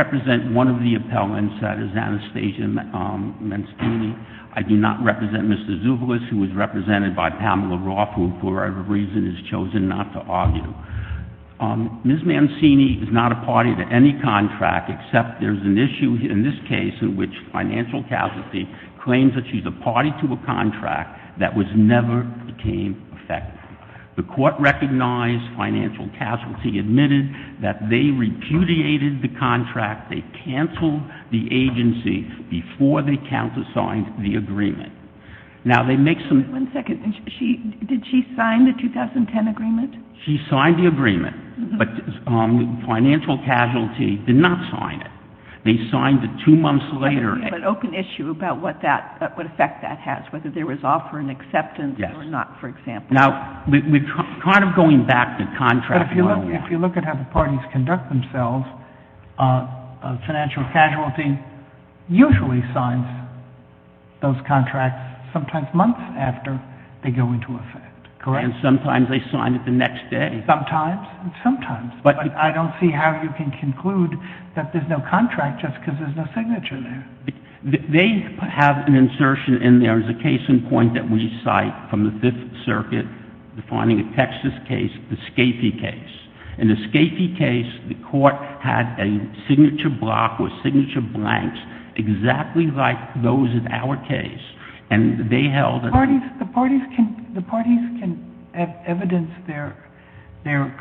represent one of the appellants that is Anastasia Mancini. I do not represent Mr. Zuvulis, who for whatever reason has chosen not to argue. Ms. Mancini is not a party to any contract, except there's an issue in this case in which financial casualty claims that she's a party to a contract that was never became effective. The court recognized financial casualty, admitted that they repudiated the contract, they canceled the agency before they countersigned the agreement. One second. Did she sign the 2010 agreement? She signed the agreement, but financial casualty did not sign it. They signed it two months later. Okay, but open issue about what effect that has, whether there was offer and acceptance or not, for example. If you look at how the parties conduct themselves, financial casualty usually signs those contracts sometimes months after they go into effect, correct? And sometimes they sign it the next day. Sometimes, and sometimes. But I don't see how you can conclude that there's no contract just because there's no signature there. They have an insertion, and there's a case in point that we cite from the Fifth Circuit, defining a Texas case, the Scafee case. In the Scafee case, the court had a signature block with signature blanks exactly like those in our case, and they held that the parties can evidence their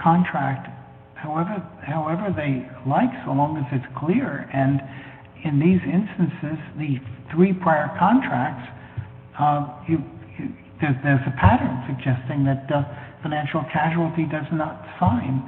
contract however they like, so long as it's clear. And in these instances, the three prior contracts, there's a pattern suggesting that financial casualty does not sign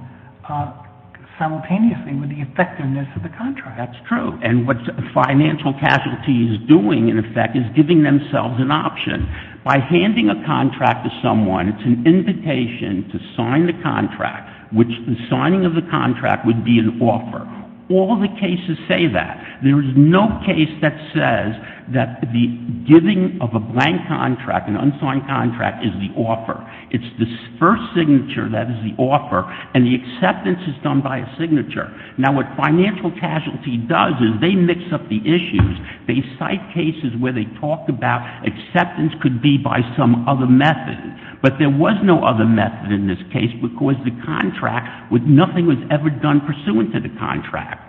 simultaneously with the effectiveness of the contract. That's true. And what financial casualty is doing, in effect, is giving themselves an option. By handing a contract to someone, it's an invitation to sign the contract, which the signing of the contract would be an offer. All the cases say that. There is no case that says that the giving of a blank contract, an unsigned contract, is the offer. It's the first signature that is the offer, and the acceptance is done by a signature. Now, what financial casualty does is they mix up the issues. They cite cases where they talk about acceptance could be by some other method. But there was no other method in this case because the contract, nothing was ever done pursuant to the contract.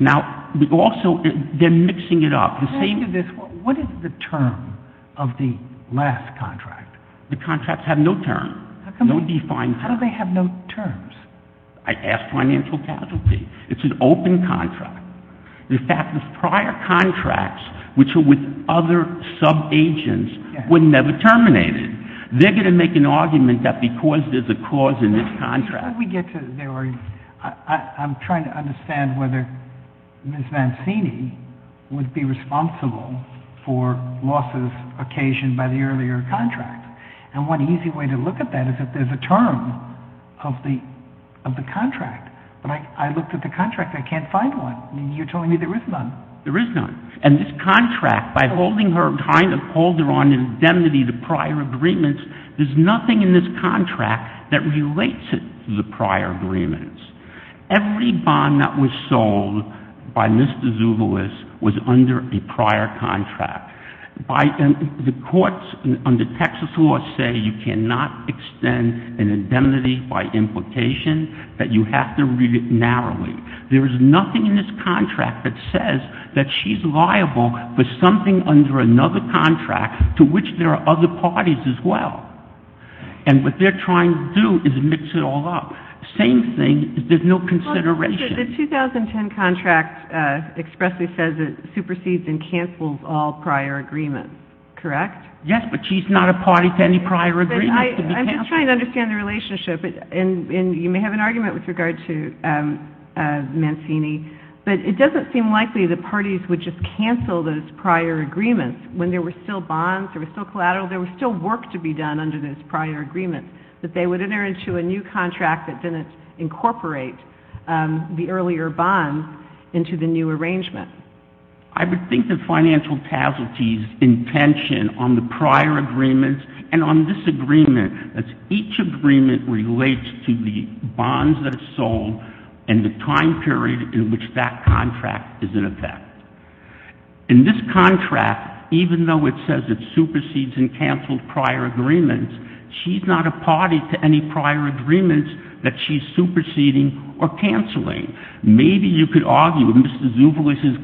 Now, also, they're mixing it up. Can I ask you this? What is the term of the last contract? The contracts have no term. How come they have no terms? I asked financial casualty. It's an open contract. The fact is prior contracts, which are with other sub-agents, were never terminated. They're going to make an argument that because there's a cause in this contract. I'm trying to understand whether Ms. Vanzini would be responsible for losses occasioned by the earlier contract. And one easy way to look at that is that there's a term of the contract. But I looked at the contract. I can't find one. You're telling me there is none. There is none. And this contract, by holding her kind of holder on indemnity to prior agreements, there's nothing in this contract that relates it to the prior agreements. Every bond that was sold by Mr. Zouvelos was under a prior contract. The courts under Texas law say you cannot extend an indemnity by implication, that you have to read it narrowly. There is nothing in this contract that says that she's liable for something under another contract, to which there are other parties as well. And what they're trying to do is mix it all up. Same thing, there's no consideration. The 2010 contract expressly says it supersedes and cancels all prior agreements, correct? Yes, but she's not a party to any prior agreements. I'm just trying to understand the relationship. And you may have an argument with regard to Vanzini, but it doesn't seem likely the parties would just cancel those prior agreements when there were still bonds, there were still collateral, there was still work to be done under those prior agreements, that they would enter into a new contract that didn't incorporate the earlier bond into the new arrangement. I would think that financial casualties intention on the prior agreements and on this agreement, that each agreement relates to the bonds that are sold and the time period in which that contract is in effect. In this contract, even though it says it supersedes and cancels prior agreements, she's not a party to any prior agreements that she's superseding or canceling. Maybe you could argue if Mr. Zouvelos'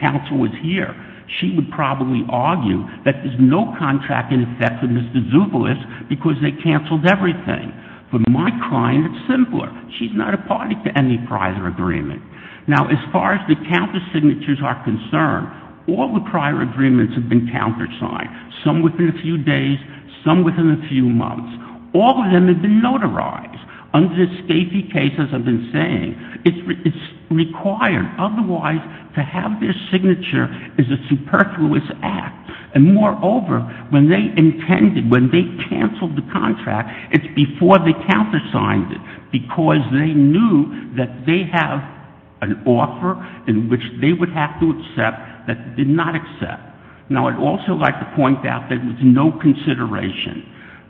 counsel was here, she would probably argue that there's no contract in effect with Mr. Zouvelos because they canceled everything. For my client, it's simpler. She's not a party to any prior agreement. Now, as far as the counter signatures are concerned, all the prior agreements have been countersigned, some within a few days, some within a few months. All of them have been notarized under the SCAPI case, as I've been saying. It's required. Otherwise, to have their signature is a superfluous act. And moreover, when they intended, when they canceled the contract, it's before they countersigned it because they knew that they have an offer in which they would have to accept that they did not accept. Now, I'd also like to point out that there was no consideration.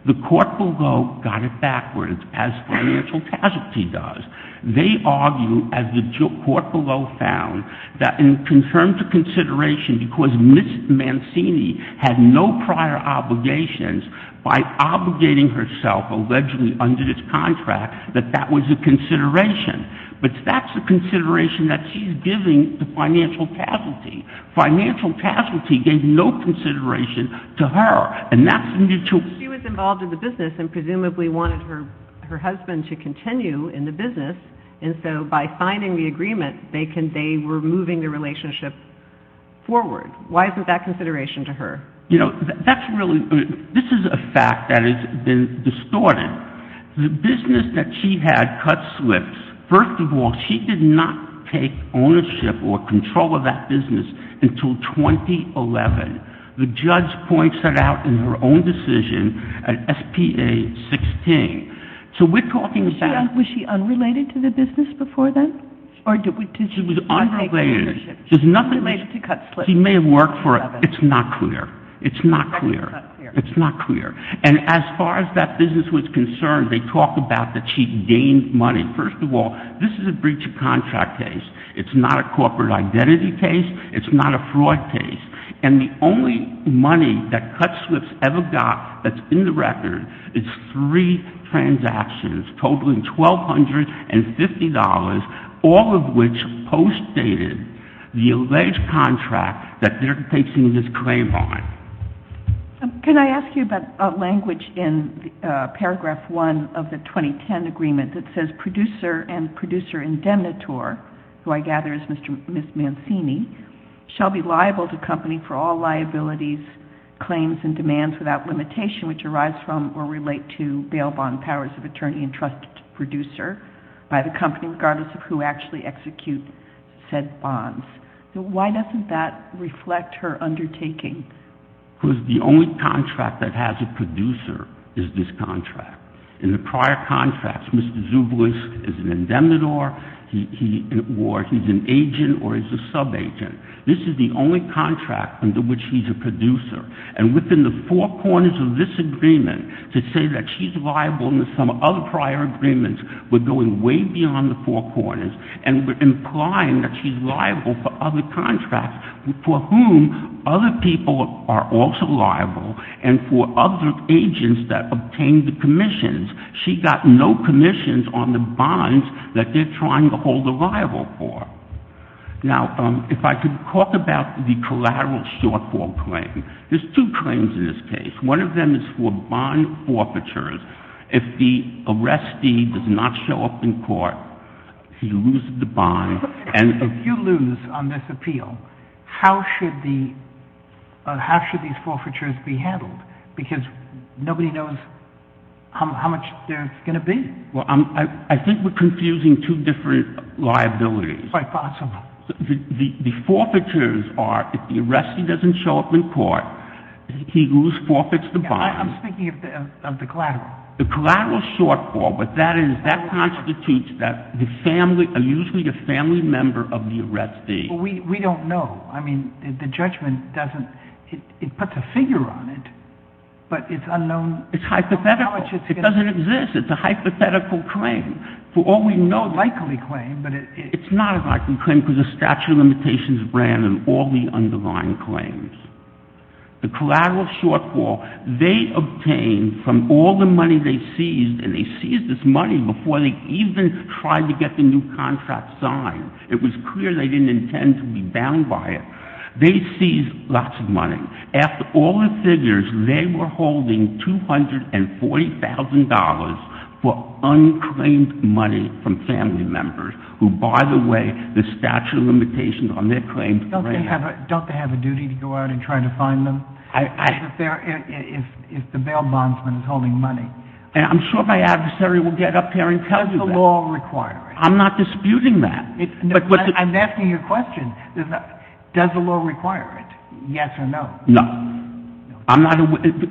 The court below got it backwards, as financial casualty does. They argue, as the court below found, that in terms of consideration, because Ms. Mancini had no prior obligations, by obligating herself allegedly under this contract, that that was a consideration. But that's a consideration that she's giving to financial casualty. Financial casualty gave no consideration to her. And that's the new tool. She was involved in the business and presumably wanted her husband to continue in the business. And so by signing the agreement, they were moving the relationship forward. Why isn't that consideration to her? You know, this is a fact that has been distorted. The business that she had cut slips. First of all, she did not take ownership or control of that business until 2011. The judge points that out in her own decision at SPA 16. So we're talking about – Was she unrelated to the business before then? She was unrelated. She may have worked for it. It's not clear. It's not clear. It's not clear. And as far as that business was concerned, they talk about that she gained money. First of all, this is a breach of contract case. It's not a corporate identity case. It's not a fraud case. And the only money that cut slips ever got that's in the record is three transactions totaling $1,250, all of which postdated the alleged contract that they're placing this claim on. Can I ask you about a language in Paragraph 1 of the 2010 agreement that says producer and producer indemnitor, who I gather is Ms. Mancini, shall be liable to company for all liabilities, claims, and demands without limitation, which arise from or relate to bail bond powers of attorney and trust producer by the company, regardless of who actually executes said bonds. Why doesn't that reflect her undertaking? Because the only contract that has a producer is this contract. In the prior contracts, Mr. Zubelis is an indemnitor, or he's an agent, or he's a subagent. This is the only contract under which he's a producer. And within the four corners of this agreement, to say that she's liable under some other prior agreements, we're going way beyond the four corners, and we're implying that she's liable for other contracts for whom other people are also liable, and for other agents that obtained the commissions. She got no commissions on the bonds that they're trying to hold her liable for. Now, if I could talk about the collateral shortfall claim. There's two claims in this case. One of them is for bond forfeitures. If the arrestee does not show up in court, he loses the bond. If you lose on this appeal, how should these forfeitures be handled? Because nobody knows how much there's going to be. Well, I think we're confusing two different liabilities. Quite possible. The forfeitures are if the arrestee doesn't show up in court, he who forfeits the bond. I'm speaking of the collateral. The collateral shortfall, but that constitutes that the family, usually the family member of the arrestee. We don't know. I mean, the judgment doesn't, it puts a figure on it, but it's unknown how much it's going to be. It's hypothetical. It doesn't exist. It's a hypothetical claim. For all we know, likely claim, but it's not a likely claim because the statute of limitations ran on all the underlying claims. The collateral shortfall, they obtained from all the money they seized, and they seized this money before they even tried to get the new contract signed. It was clear they didn't intend to be bound by it. They seized lots of money. After all the figures, they were holding $240,000 for unclaimed money from family members, who, by the way, the statute of limitations on their claims ran. Don't they have a duty to go out and try to find them if the bail bondsman is holding money? I'm sure my adversary will get up here and tell you that. Does the law require it? I'm not disputing that. I'm asking you a question. Does the law require it, yes or no? No.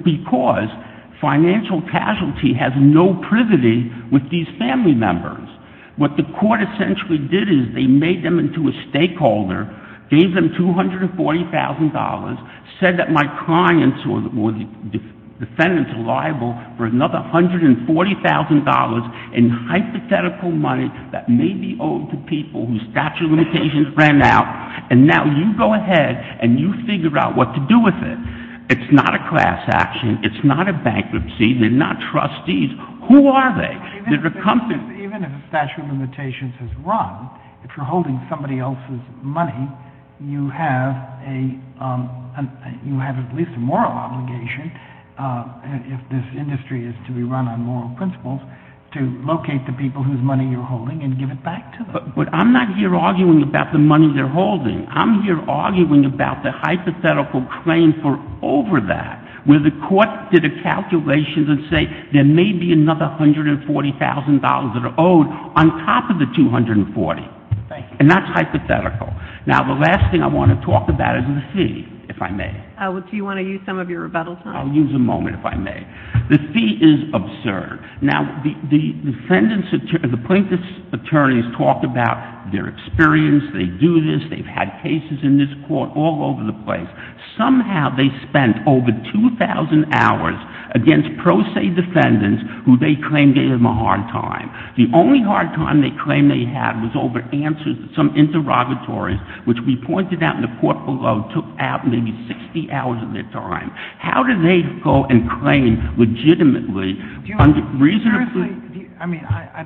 Because financial casualty has no privity with these family members. What the court essentially did is they made them into a stakeholder, gave them $240,000, said that my clients or the defendants are liable for another $140,000 in hypothetical money that may be owed to people whose statute of limitations ran out, and now you go ahead and you figure out what to do with it. It's not a class action. It's not a bankruptcy. They're not trustees. Who are they? They're a company. Even if a statute of limitations is run, if you're holding somebody else's money, you have at least a moral obligation, if this industry is to be run on moral principles, to locate the people whose money you're holding and give it back to them. But I'm not here arguing about the money they're holding. I'm here arguing about the hypothetical claim for over that, where the court did a calculation that say there may be another $140,000 that are owed on top of the $240,000. Thank you. And that's hypothetical. Now, the last thing I want to talk about is the fee, if I may. Do you want to use some of your rebuttal time? I'll use a moment, if I may. The fee is absurd. Now, the plaintiff's attorneys talk about their experience. They do this. They've had cases in this court all over the place. Somehow they spent over 2,000 hours against pro se defendants who they claim gave them a hard time. The only hard time they claim they had was over answers to some interrogatories, which we pointed out in the court below took out maybe 60 hours of their time. How do they go and claim legitimately, reasonably? I mean, I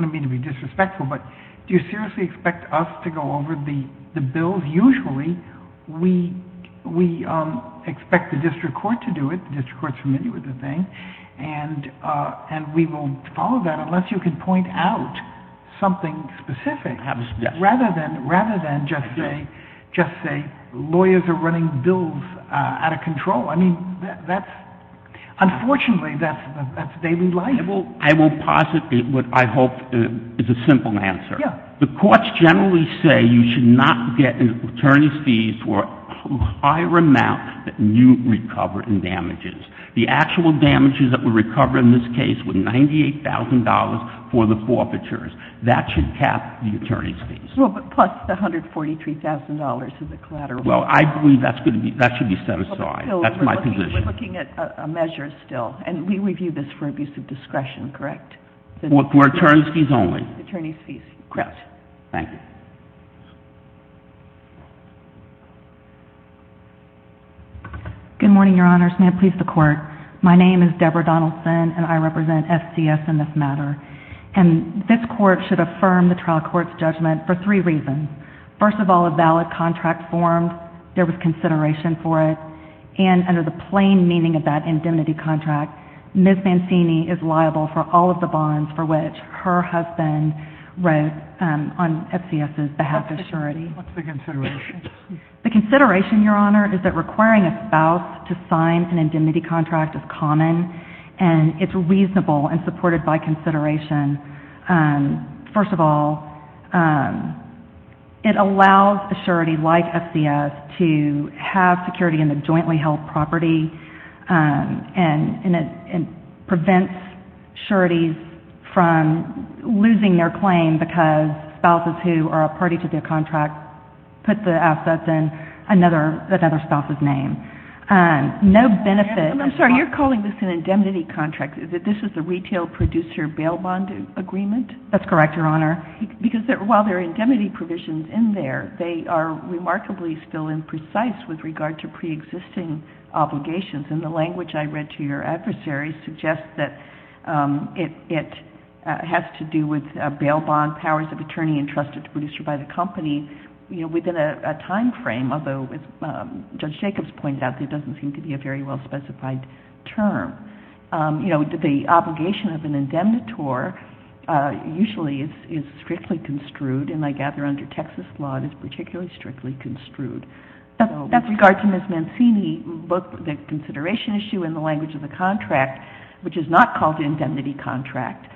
don't mean to be disrespectful, but do you seriously expect us to go over the bills? Usually we expect the district court to do it. The district court is familiar with the thing. And we won't follow that unless you can point out something specific. Rather than just say lawyers are running bills out of control, I mean, unfortunately that's daily life. I will posit what I hope is a simple answer. The courts generally say you should not get an attorney's fee for a higher amount than you recover in damages. The actual damages that were recovered in this case were $98,000 for the forfeitures. That should cap the attorney's fees. Well, but plus the $143,000 as a collateral. Well, I believe that should be set aside. That's my position. We're looking at a measure still. And we review this for abuse of discretion, correct? For attorney's fees only. Attorney's fees, correct. Thank you. Good morning, Your Honors. May it please the Court. My name is Deborah Donaldson, and I represent SCS in this matter. And this Court should affirm the trial court's judgment for three reasons. First of all, a valid contract formed, there was consideration for it, and under the plain meaning of that indemnity contract, Ms. Mancini is liable for all of the bonds for which her husband wrote on SCS's behalf of surety. What's the consideration? The consideration, Your Honor, is that requiring a spouse to sign an indemnity contract is common, and it's reasonable and supported by consideration. First of all, it allows a surety like SCS to have security in the jointly held property, and it prevents sureties from losing their claim because spouses who are a party to their contract put the assets in another spouse's name. No benefit. I'm sorry, you're calling this an indemnity contract. This is a retail producer bail bond agreement? That's correct, Your Honor. Because while there are indemnity provisions in there, they are remarkably still imprecise with regard to preexisting obligations. And the language I read to your adversary suggests that it has to do with bail bond powers of attorney by the company within a timeframe, although, as Judge Jacobs pointed out, there doesn't seem to be a very well-specified term. You know, the obligation of an indemnitor usually is strictly construed, and I gather under Texas law it is particularly strictly construed. With regard to Ms. Mancini, both the consideration issue and the language of the contract, which is not called an indemnity contract,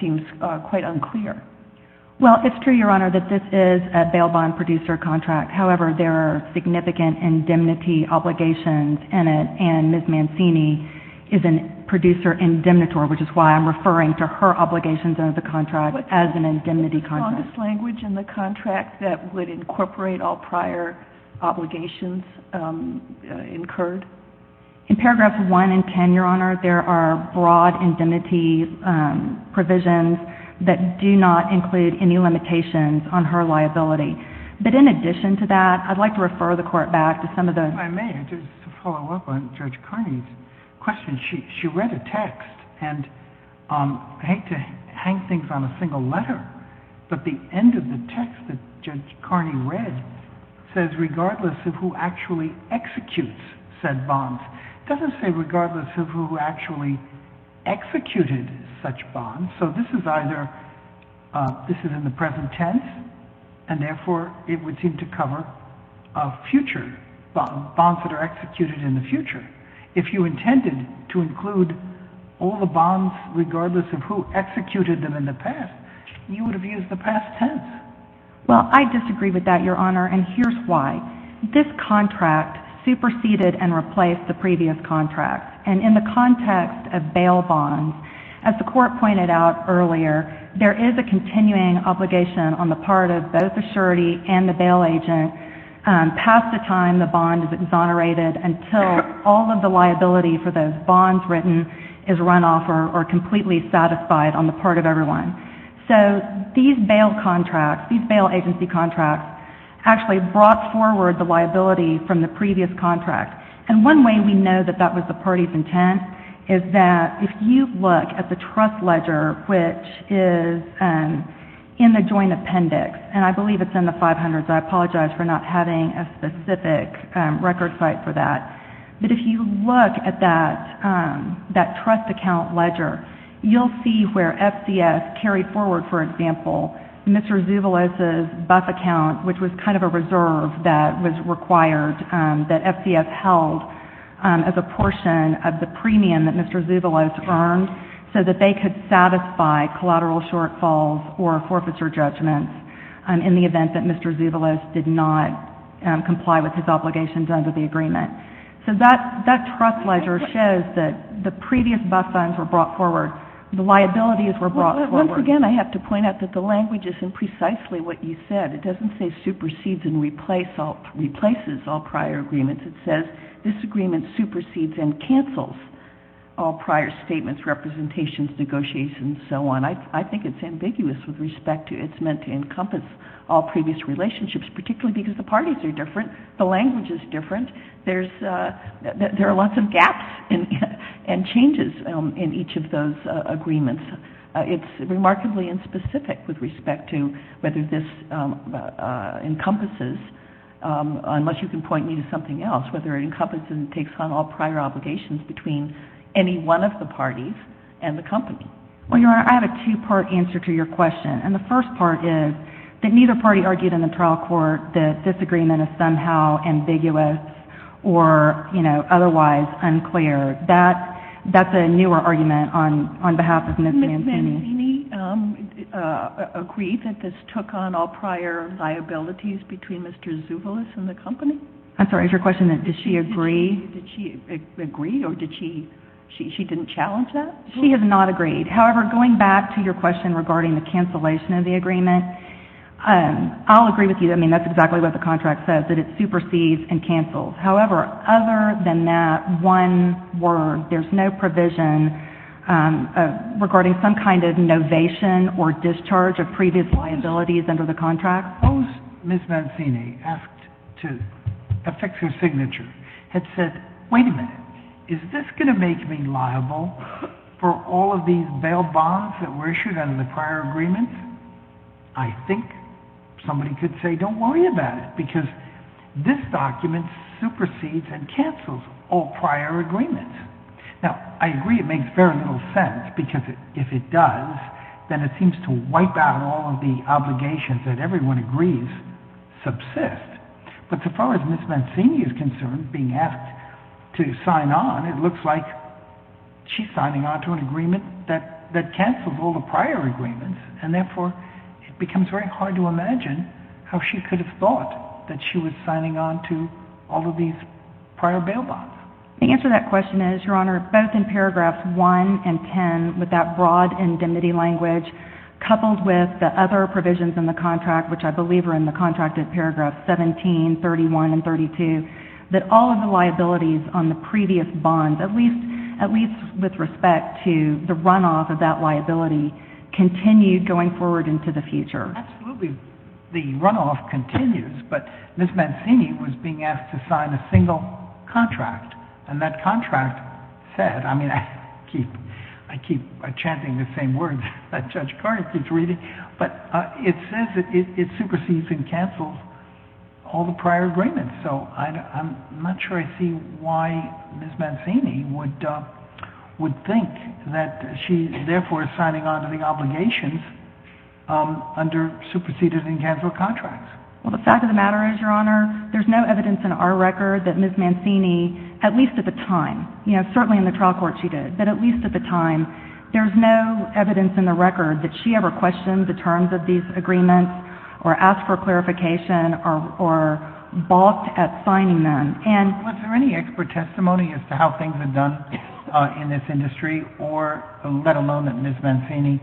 seems quite unclear. Well, it's true, Your Honor, that this is a bail bond producer contract. However, there are significant indemnity obligations in it, and Ms. Mancini is a producer indemnitor, which is why I'm referring to her obligations under the contract as an indemnity contract. What's the strongest language in the contract that would incorporate all prior obligations incurred? In paragraphs 1 and 10, Your Honor, there are broad indemnity provisions that do not include any limitations on her liability. But in addition to that, I'd like to refer the Court back to some of those. If I may, just to follow up on Judge Carney's question. She read a text, and I hate to hang things on a single letter, but the end of the text that Judge Carney read says, regardless of who actually executes said bonds, it doesn't say regardless of who actually executed such bonds. So this is either, this is in the present tense, and therefore it would seem to cover bonds that are executed in the future. If you intended to include all the bonds regardless of who executed them in the past, you would have used the past tense. Well, I disagree with that, Your Honor, and here's why. This contract superseded and replaced the previous contract. And in the context of bail bonds, as the Court pointed out earlier, there is a continuing obligation on the part of both the surety and the bail agent past the time the bond is exonerated until all of the liability for those bonds written is run off or completely satisfied on the part of everyone. So these bail contracts, these bail agency contracts, actually brought forward the liability from the previous contract. And one way we know that that was the party's intent is that if you look at the trust ledger, which is in the joint appendix, and I believe it's in the 500s. I apologize for not having a specific record site for that. But if you look at that trust account ledger, you'll see where FCS carried forward, for example, Mr. Zouvelos' buff account, which was kind of a reserve that was required that FCS held as a portion of the premium that Mr. Zouvelos earned so that they could satisfy collateral shortfalls or forfeiture judgments in the event that Mr. Zouvelos did not comply with his obligations under the agreement. So that trust ledger shows that the previous buff funds were brought forward. The liabilities were brought forward. Once again, I have to point out that the language isn't precisely what you said. It doesn't say supersedes and replaces all prior agreements. It says this agreement supersedes and cancels all prior statements, representations, negotiations, and so on. I think it's ambiguous with respect to it's meant to encompass all previous relationships, particularly because the parties are different, the language is different. There are lots of gaps and changes in each of those agreements. It's remarkably inspecific with respect to whether this encompasses, unless you can point me to something else, whether it encompasses and takes on all prior obligations between any one of the parties and the company. Well, Your Honor, I have a two-part answer to your question. And the first part is that neither party argued in the trial court that this agreement is somehow ambiguous or, you know, otherwise unclear. That's a newer argument on behalf of Ms. Mancini. Did Ms. Mancini agree that this took on all prior liabilities between Mr. Zouvelos and the company? I'm sorry, is your question that did she agree? Did she agree or did she, she didn't challenge that? She has not agreed. However, going back to your question regarding the cancellation of the agreement, I'll agree with you. I mean, that's exactly what the contract says, that it supersedes and cancels. However, other than that one word, there's no provision regarding some kind of novation or discharge of previous liabilities under the contract. Now, suppose Ms. Mancini asked to affix her signature, had said, wait a minute, is this going to make me liable for all of these bail bonds that were issued under the prior agreement? I think somebody could say, don't worry about it, because this document supersedes and cancels all prior agreements. Now, I agree it makes very little sense, because if it does, then it seems to wipe out all of the obligations that everyone agrees subsist. But as far as Ms. Mancini is concerned, being asked to sign on, it looks like she's signing on to an agreement that cancels all the prior agreements, and therefore it becomes very hard to imagine how she could have thought that she was signing on to all of these prior bail bonds. The answer to that question is, Your Honor, both in paragraphs 1 and 10, with that broad indemnity language, coupled with the other provisions in the contract, which I believe are in the contracted paragraphs 17, 31, and 32, that all of the liabilities on the previous bonds, at least with respect to the runoff of that liability, continued going forward into the future. Absolutely. The runoff continues, but Ms. Mancini was being asked to sign a single contract, and that contract said, I mean, I keep chanting the same words that Judge Garner keeps reading, but it says it supersedes and cancels all the prior agreements. So I'm not sure I see why Ms. Mancini would think that she's therefore signing on to the obligations under superseded and canceled contracts. Well, the fact of the matter is, Your Honor, there's no evidence in our record that Ms. Mancini, at least at the time, you know, certainly in the trial court she did, but at least at the time, there's no evidence in the record that she ever questioned the terms of these agreements or asked for clarification or balked at signing them. Was there any expert testimony as to how things are done in this industry, or let alone that Ms. Mancini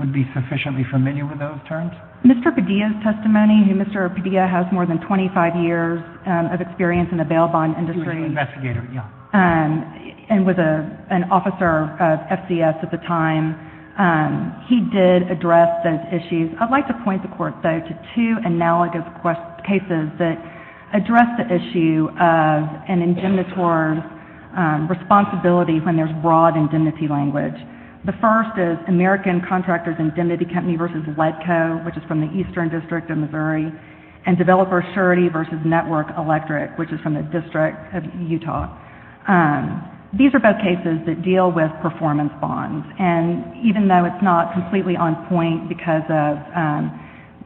would be sufficiently familiar with those terms? Mr. Padilla's testimony, Mr. Padilla has more than 25 years of experience in the bail bond industry. He was an investigator, yes. And was an officer of FCS at the time. He did address those issues. I'd like to point the Court, though, to two analogous cases that address the issue of an indemnitor's responsibility when there's broad indemnity language. The first is American Contractors Indemnity Company v. WEDCO, which is from the Eastern District of Missouri, and Developer Surety v. Network Electric, which is from the District of Utah. These are both cases that deal with performance bonds. And even though it's not completely on point because of,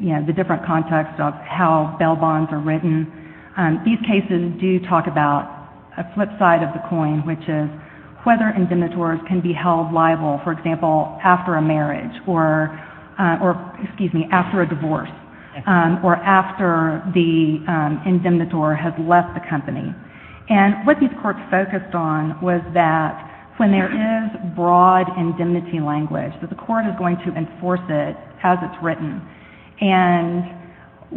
you know, the different context of how bail bonds are written, these cases do talk about a flip side of the coin, which is whether indemnitors can be held liable, for example, after a marriage or, excuse me, after a divorce or after the indemnitor has left the company. And what these courts focused on was that when there is broad indemnity language, that the Court is going to enforce it as it's written. And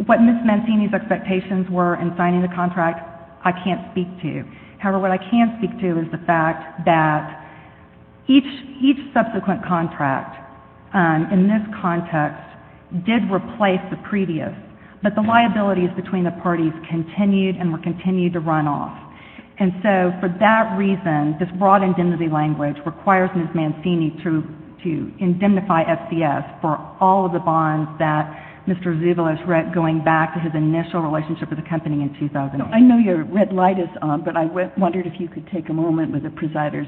what mismanaging these expectations were in signing the contract, I can't speak to. However, what I can speak to is the fact that each subsequent contract in this context did replace the previous, but the liabilities between the parties continued and were continued to run off. And so for that reason, this broad indemnity language requires Ms. Mancini to indemnify SDS for all of the bonds that Mr. Zouvelos read going back to his initial relationship with the company in 2008. I know your red light is on, but I wondered if you could take a moment with the presider's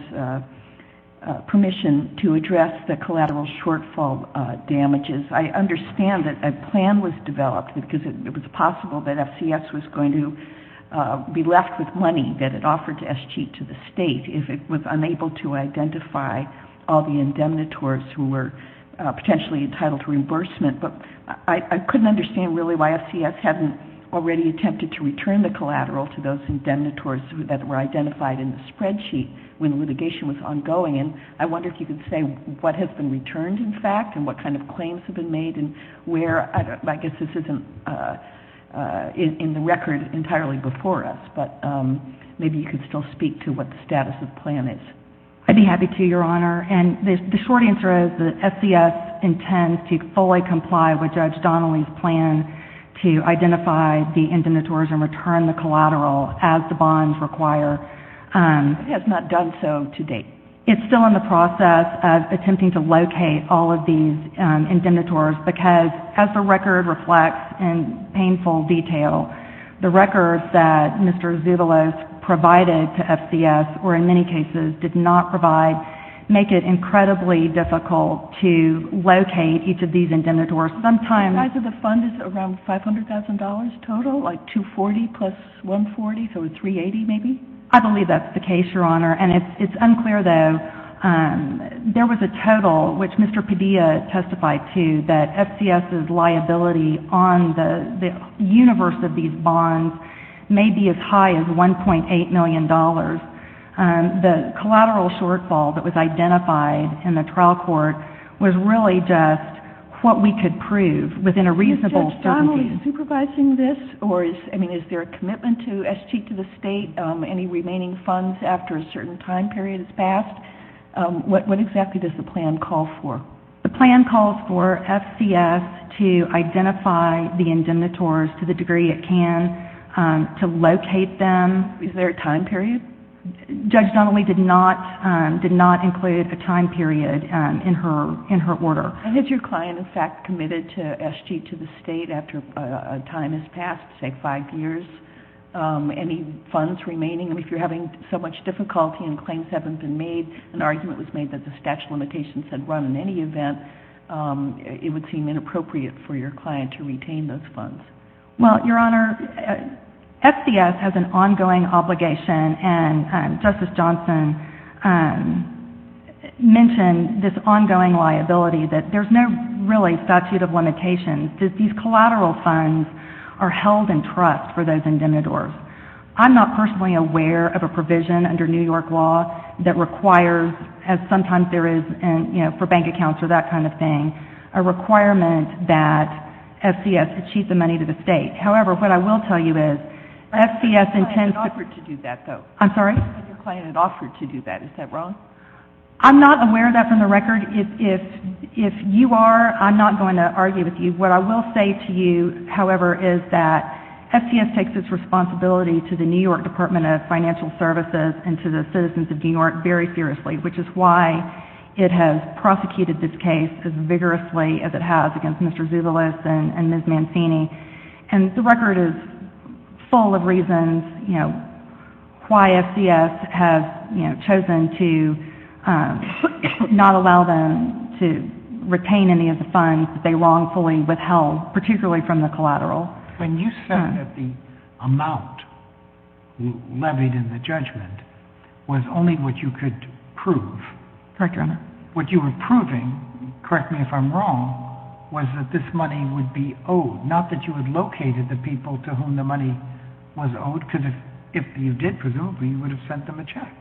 permission to address the collateral shortfall damages. I understand that a plan was developed because it was possible that FCS was going to be left with money that it offered to SG to the State if it was unable to identify all the indemnitors who were potentially entitled to reimbursement. But I couldn't understand really why FCS hadn't already attempted to return the collateral to those indemnitors that were identified in the spreadsheet when litigation was ongoing. And I wonder if you could say what has been returned, in fact, and what kind of claims have been made and where, I guess this isn't in the record entirely before us, but maybe you could still speak to what the status of the plan is. I'd be happy to, Your Honor. And the short answer is that FCS intends to fully comply with Judge Donnelly's plan to identify the indemnitors and return the collateral as the bonds require. It has not done so to date. It's still in the process of attempting to locate all of these indemnitors because, as the record reflects in painful detail, the records that Mr. Zutolos provided to FCS, or in many cases did not provide, make it incredibly difficult to locate each of these indemnitors. The size of the fund is around $500,000 total, like $240,000 plus $140,000, so $380,000 maybe? I believe that's the case, Your Honor, and it's unclear, though. There was a total, which Mr. Padilla testified to, that FCS's liability on the universe of these bonds may be as high as $1.8 million. The collateral shortfall that was identified in the trial court was really just what we could prove within a reasonable certainty. Is Judge Donnelly supervising this? Is there a commitment to SG to the State? Any remaining funds after a certain time period has passed? What exactly does the plan call for? The plan calls for FCS to identify the indemnitors to the degree it can, to locate them. Is there a time period? Judge Donnelly did not include a time period in her order. Has your client, in fact, committed to SG to the State after a time has passed, say five years? Any funds remaining? If you're having so much difficulty and claims haven't been made, an argument was made that the statute of limitations had run in any event, it would seem inappropriate for your client to retain those funds. Well, Your Honor, FCS has an ongoing obligation, and Justice Johnson mentioned this ongoing liability, that there's no really statute of limitations. These collateral funds are held in trust for those indemnitors. I'm not personally aware of a provision under New York law that requires, as sometimes there is for bank accounts or that kind of thing, a requirement that FCS achieve the money to the State. However, what I will tell you is FCS intends to... Your client had offered to do that, though. I'm sorry? Your client had offered to do that. Is that wrong? I'm not aware of that from the record. If you are, I'm not going to argue with you. What I will say to you, however, is that FCS takes its responsibility to the New York Department of Financial Services and to the citizens of New York very seriously, which is why it has prosecuted this case as vigorously as it has against Mr. Zubilis and Ms. Mancini. And the record is full of reasons, you know, why FCS has chosen to not allow them to retain any of the funds that they wrongfully withheld, particularly from the collateral. When you said that the amount levied in the judgment was only what you could prove... Correct, Your Honor. What you were proving, correct me if I'm wrong, was that this money would be owed, not that you had located the people to whom the money was owed, because if you did, presumably, you would have sent them a check.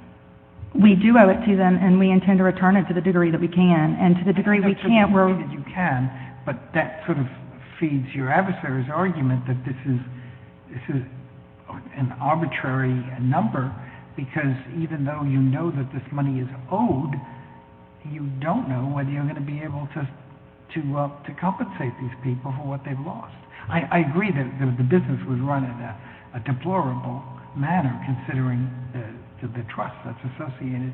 We do owe it to them, and we intend to return it to the degree that we can. And to the degree we can't, we're... You can, but that sort of feeds your adversary's argument that this is an arbitrary number, because even though you know that this money is owed, you don't know whether you're going to be able to compensate these people for what they've lost. I agree that the business was run in a deplorable manner, considering the trust that's associated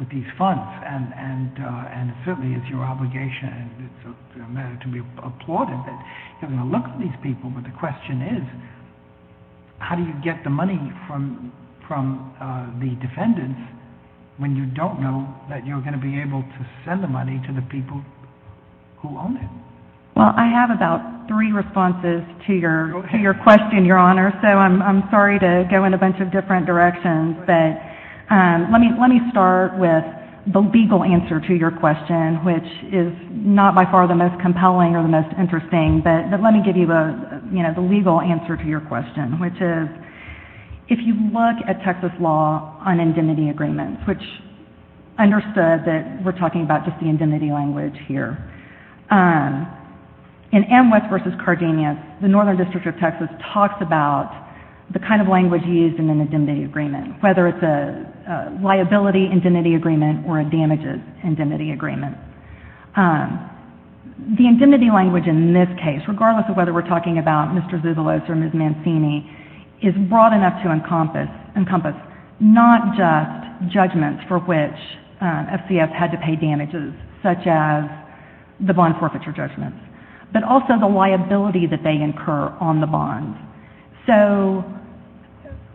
with these funds, and certainly it's your obligation and it's a matter to be applauded that you're going to look at these people, but the question is, how do you get the money from the defendants when you don't know that you're going to be able to send the money to the people who own it? Well, I have about three responses to your question, Your Honor, so I'm sorry to go in a bunch of different directions, but let me start with the legal answer to your question, which is not by far the most compelling or the most interesting, but let me give you the legal answer to your question, which is, if you look at Texas law on indemnity agreements, which understood that we're talking about just the indemnity language here, in Amwes v. Cardenas, the Northern District of Texas talks about the kind of language used in an indemnity agreement, whether it's a liability indemnity agreement or a damages indemnity agreement. The indemnity language in this case, regardless of whether we're talking about Mr. Zuvilos or Ms. Mancini, is broad enough to encompass not just judgments for which FCS had to pay damages, such as the bond forfeiture judgments, but also the liability that they incur on the bond. So,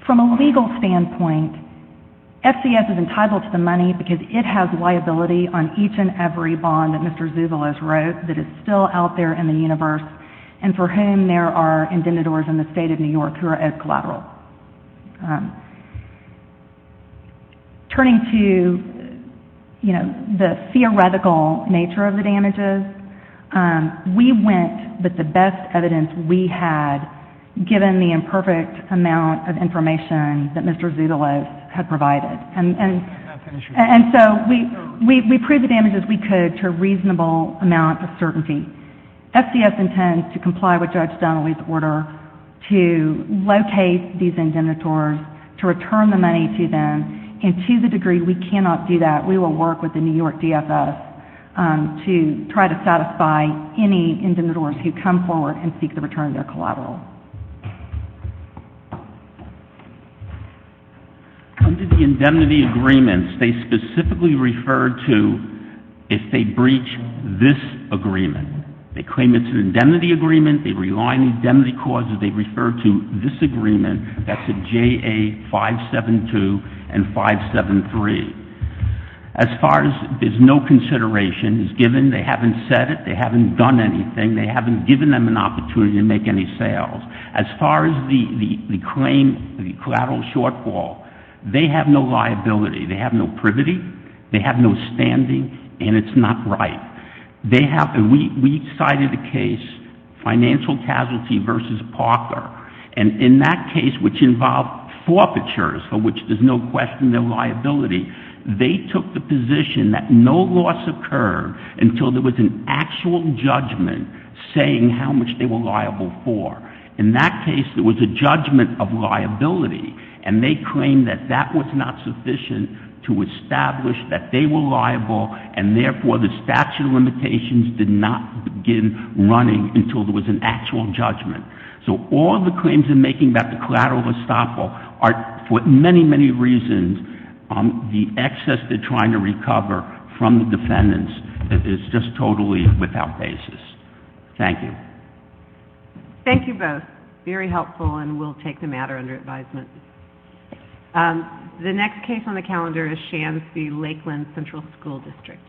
from a legal standpoint, FCS is entitled to the money because it has liability on each and every bond that Mr. Zuvilos wrote that is still out there in the universe and for whom there are indebtedors in the State of New York who are collateral. Turning to, you know, the theoretical nature of the damages, we went with the best evidence we had, given the imperfect amount of information that Mr. Zuvilos had provided. And so, we proved the damages we could to a reasonable amount of certainty. FCS intends to comply with Judge Donnelly's order to locate these indemnitors, to return the money to them, and to the degree we cannot do that, we will work with the New York DFS to try to satisfy any indemnitors who come forward and seek the return of their collateral. Under the indemnity agreements, they specifically refer to if they breach this agreement. They claim it's an indemnity agreement, they rely on indemnity clauses, they refer to this agreement, that's a JA572 and 573. As far as there's no consideration is given, they haven't said it, they haven't done anything, they haven't given them an opportunity to make any sales. As far as the claim, the collateral shortfall, they have no liability. They have no privity, they have no standing, and it's not right. We cited a case, Financial Casualty v. Parker, and in that case, which involved forfeitures, for which there's no question, no liability, they took the position that no loss occurred until there was an actual judgment saying how much they were liable for. In that case, there was a judgment of liability, and they claimed that that was not sufficient to establish that they were liable, and therefore the statute of limitations did not begin running until there was an actual judgment. So all the claims they're making about the collateral estoppel are, for many, many reasons, the excess they're trying to recover from the defendants is just totally without basis. Thank you. Thank you both. Very helpful, and we'll take the matter under advisement. The next case on the calendar is Shams v. Lakeland Central School District. Thank you.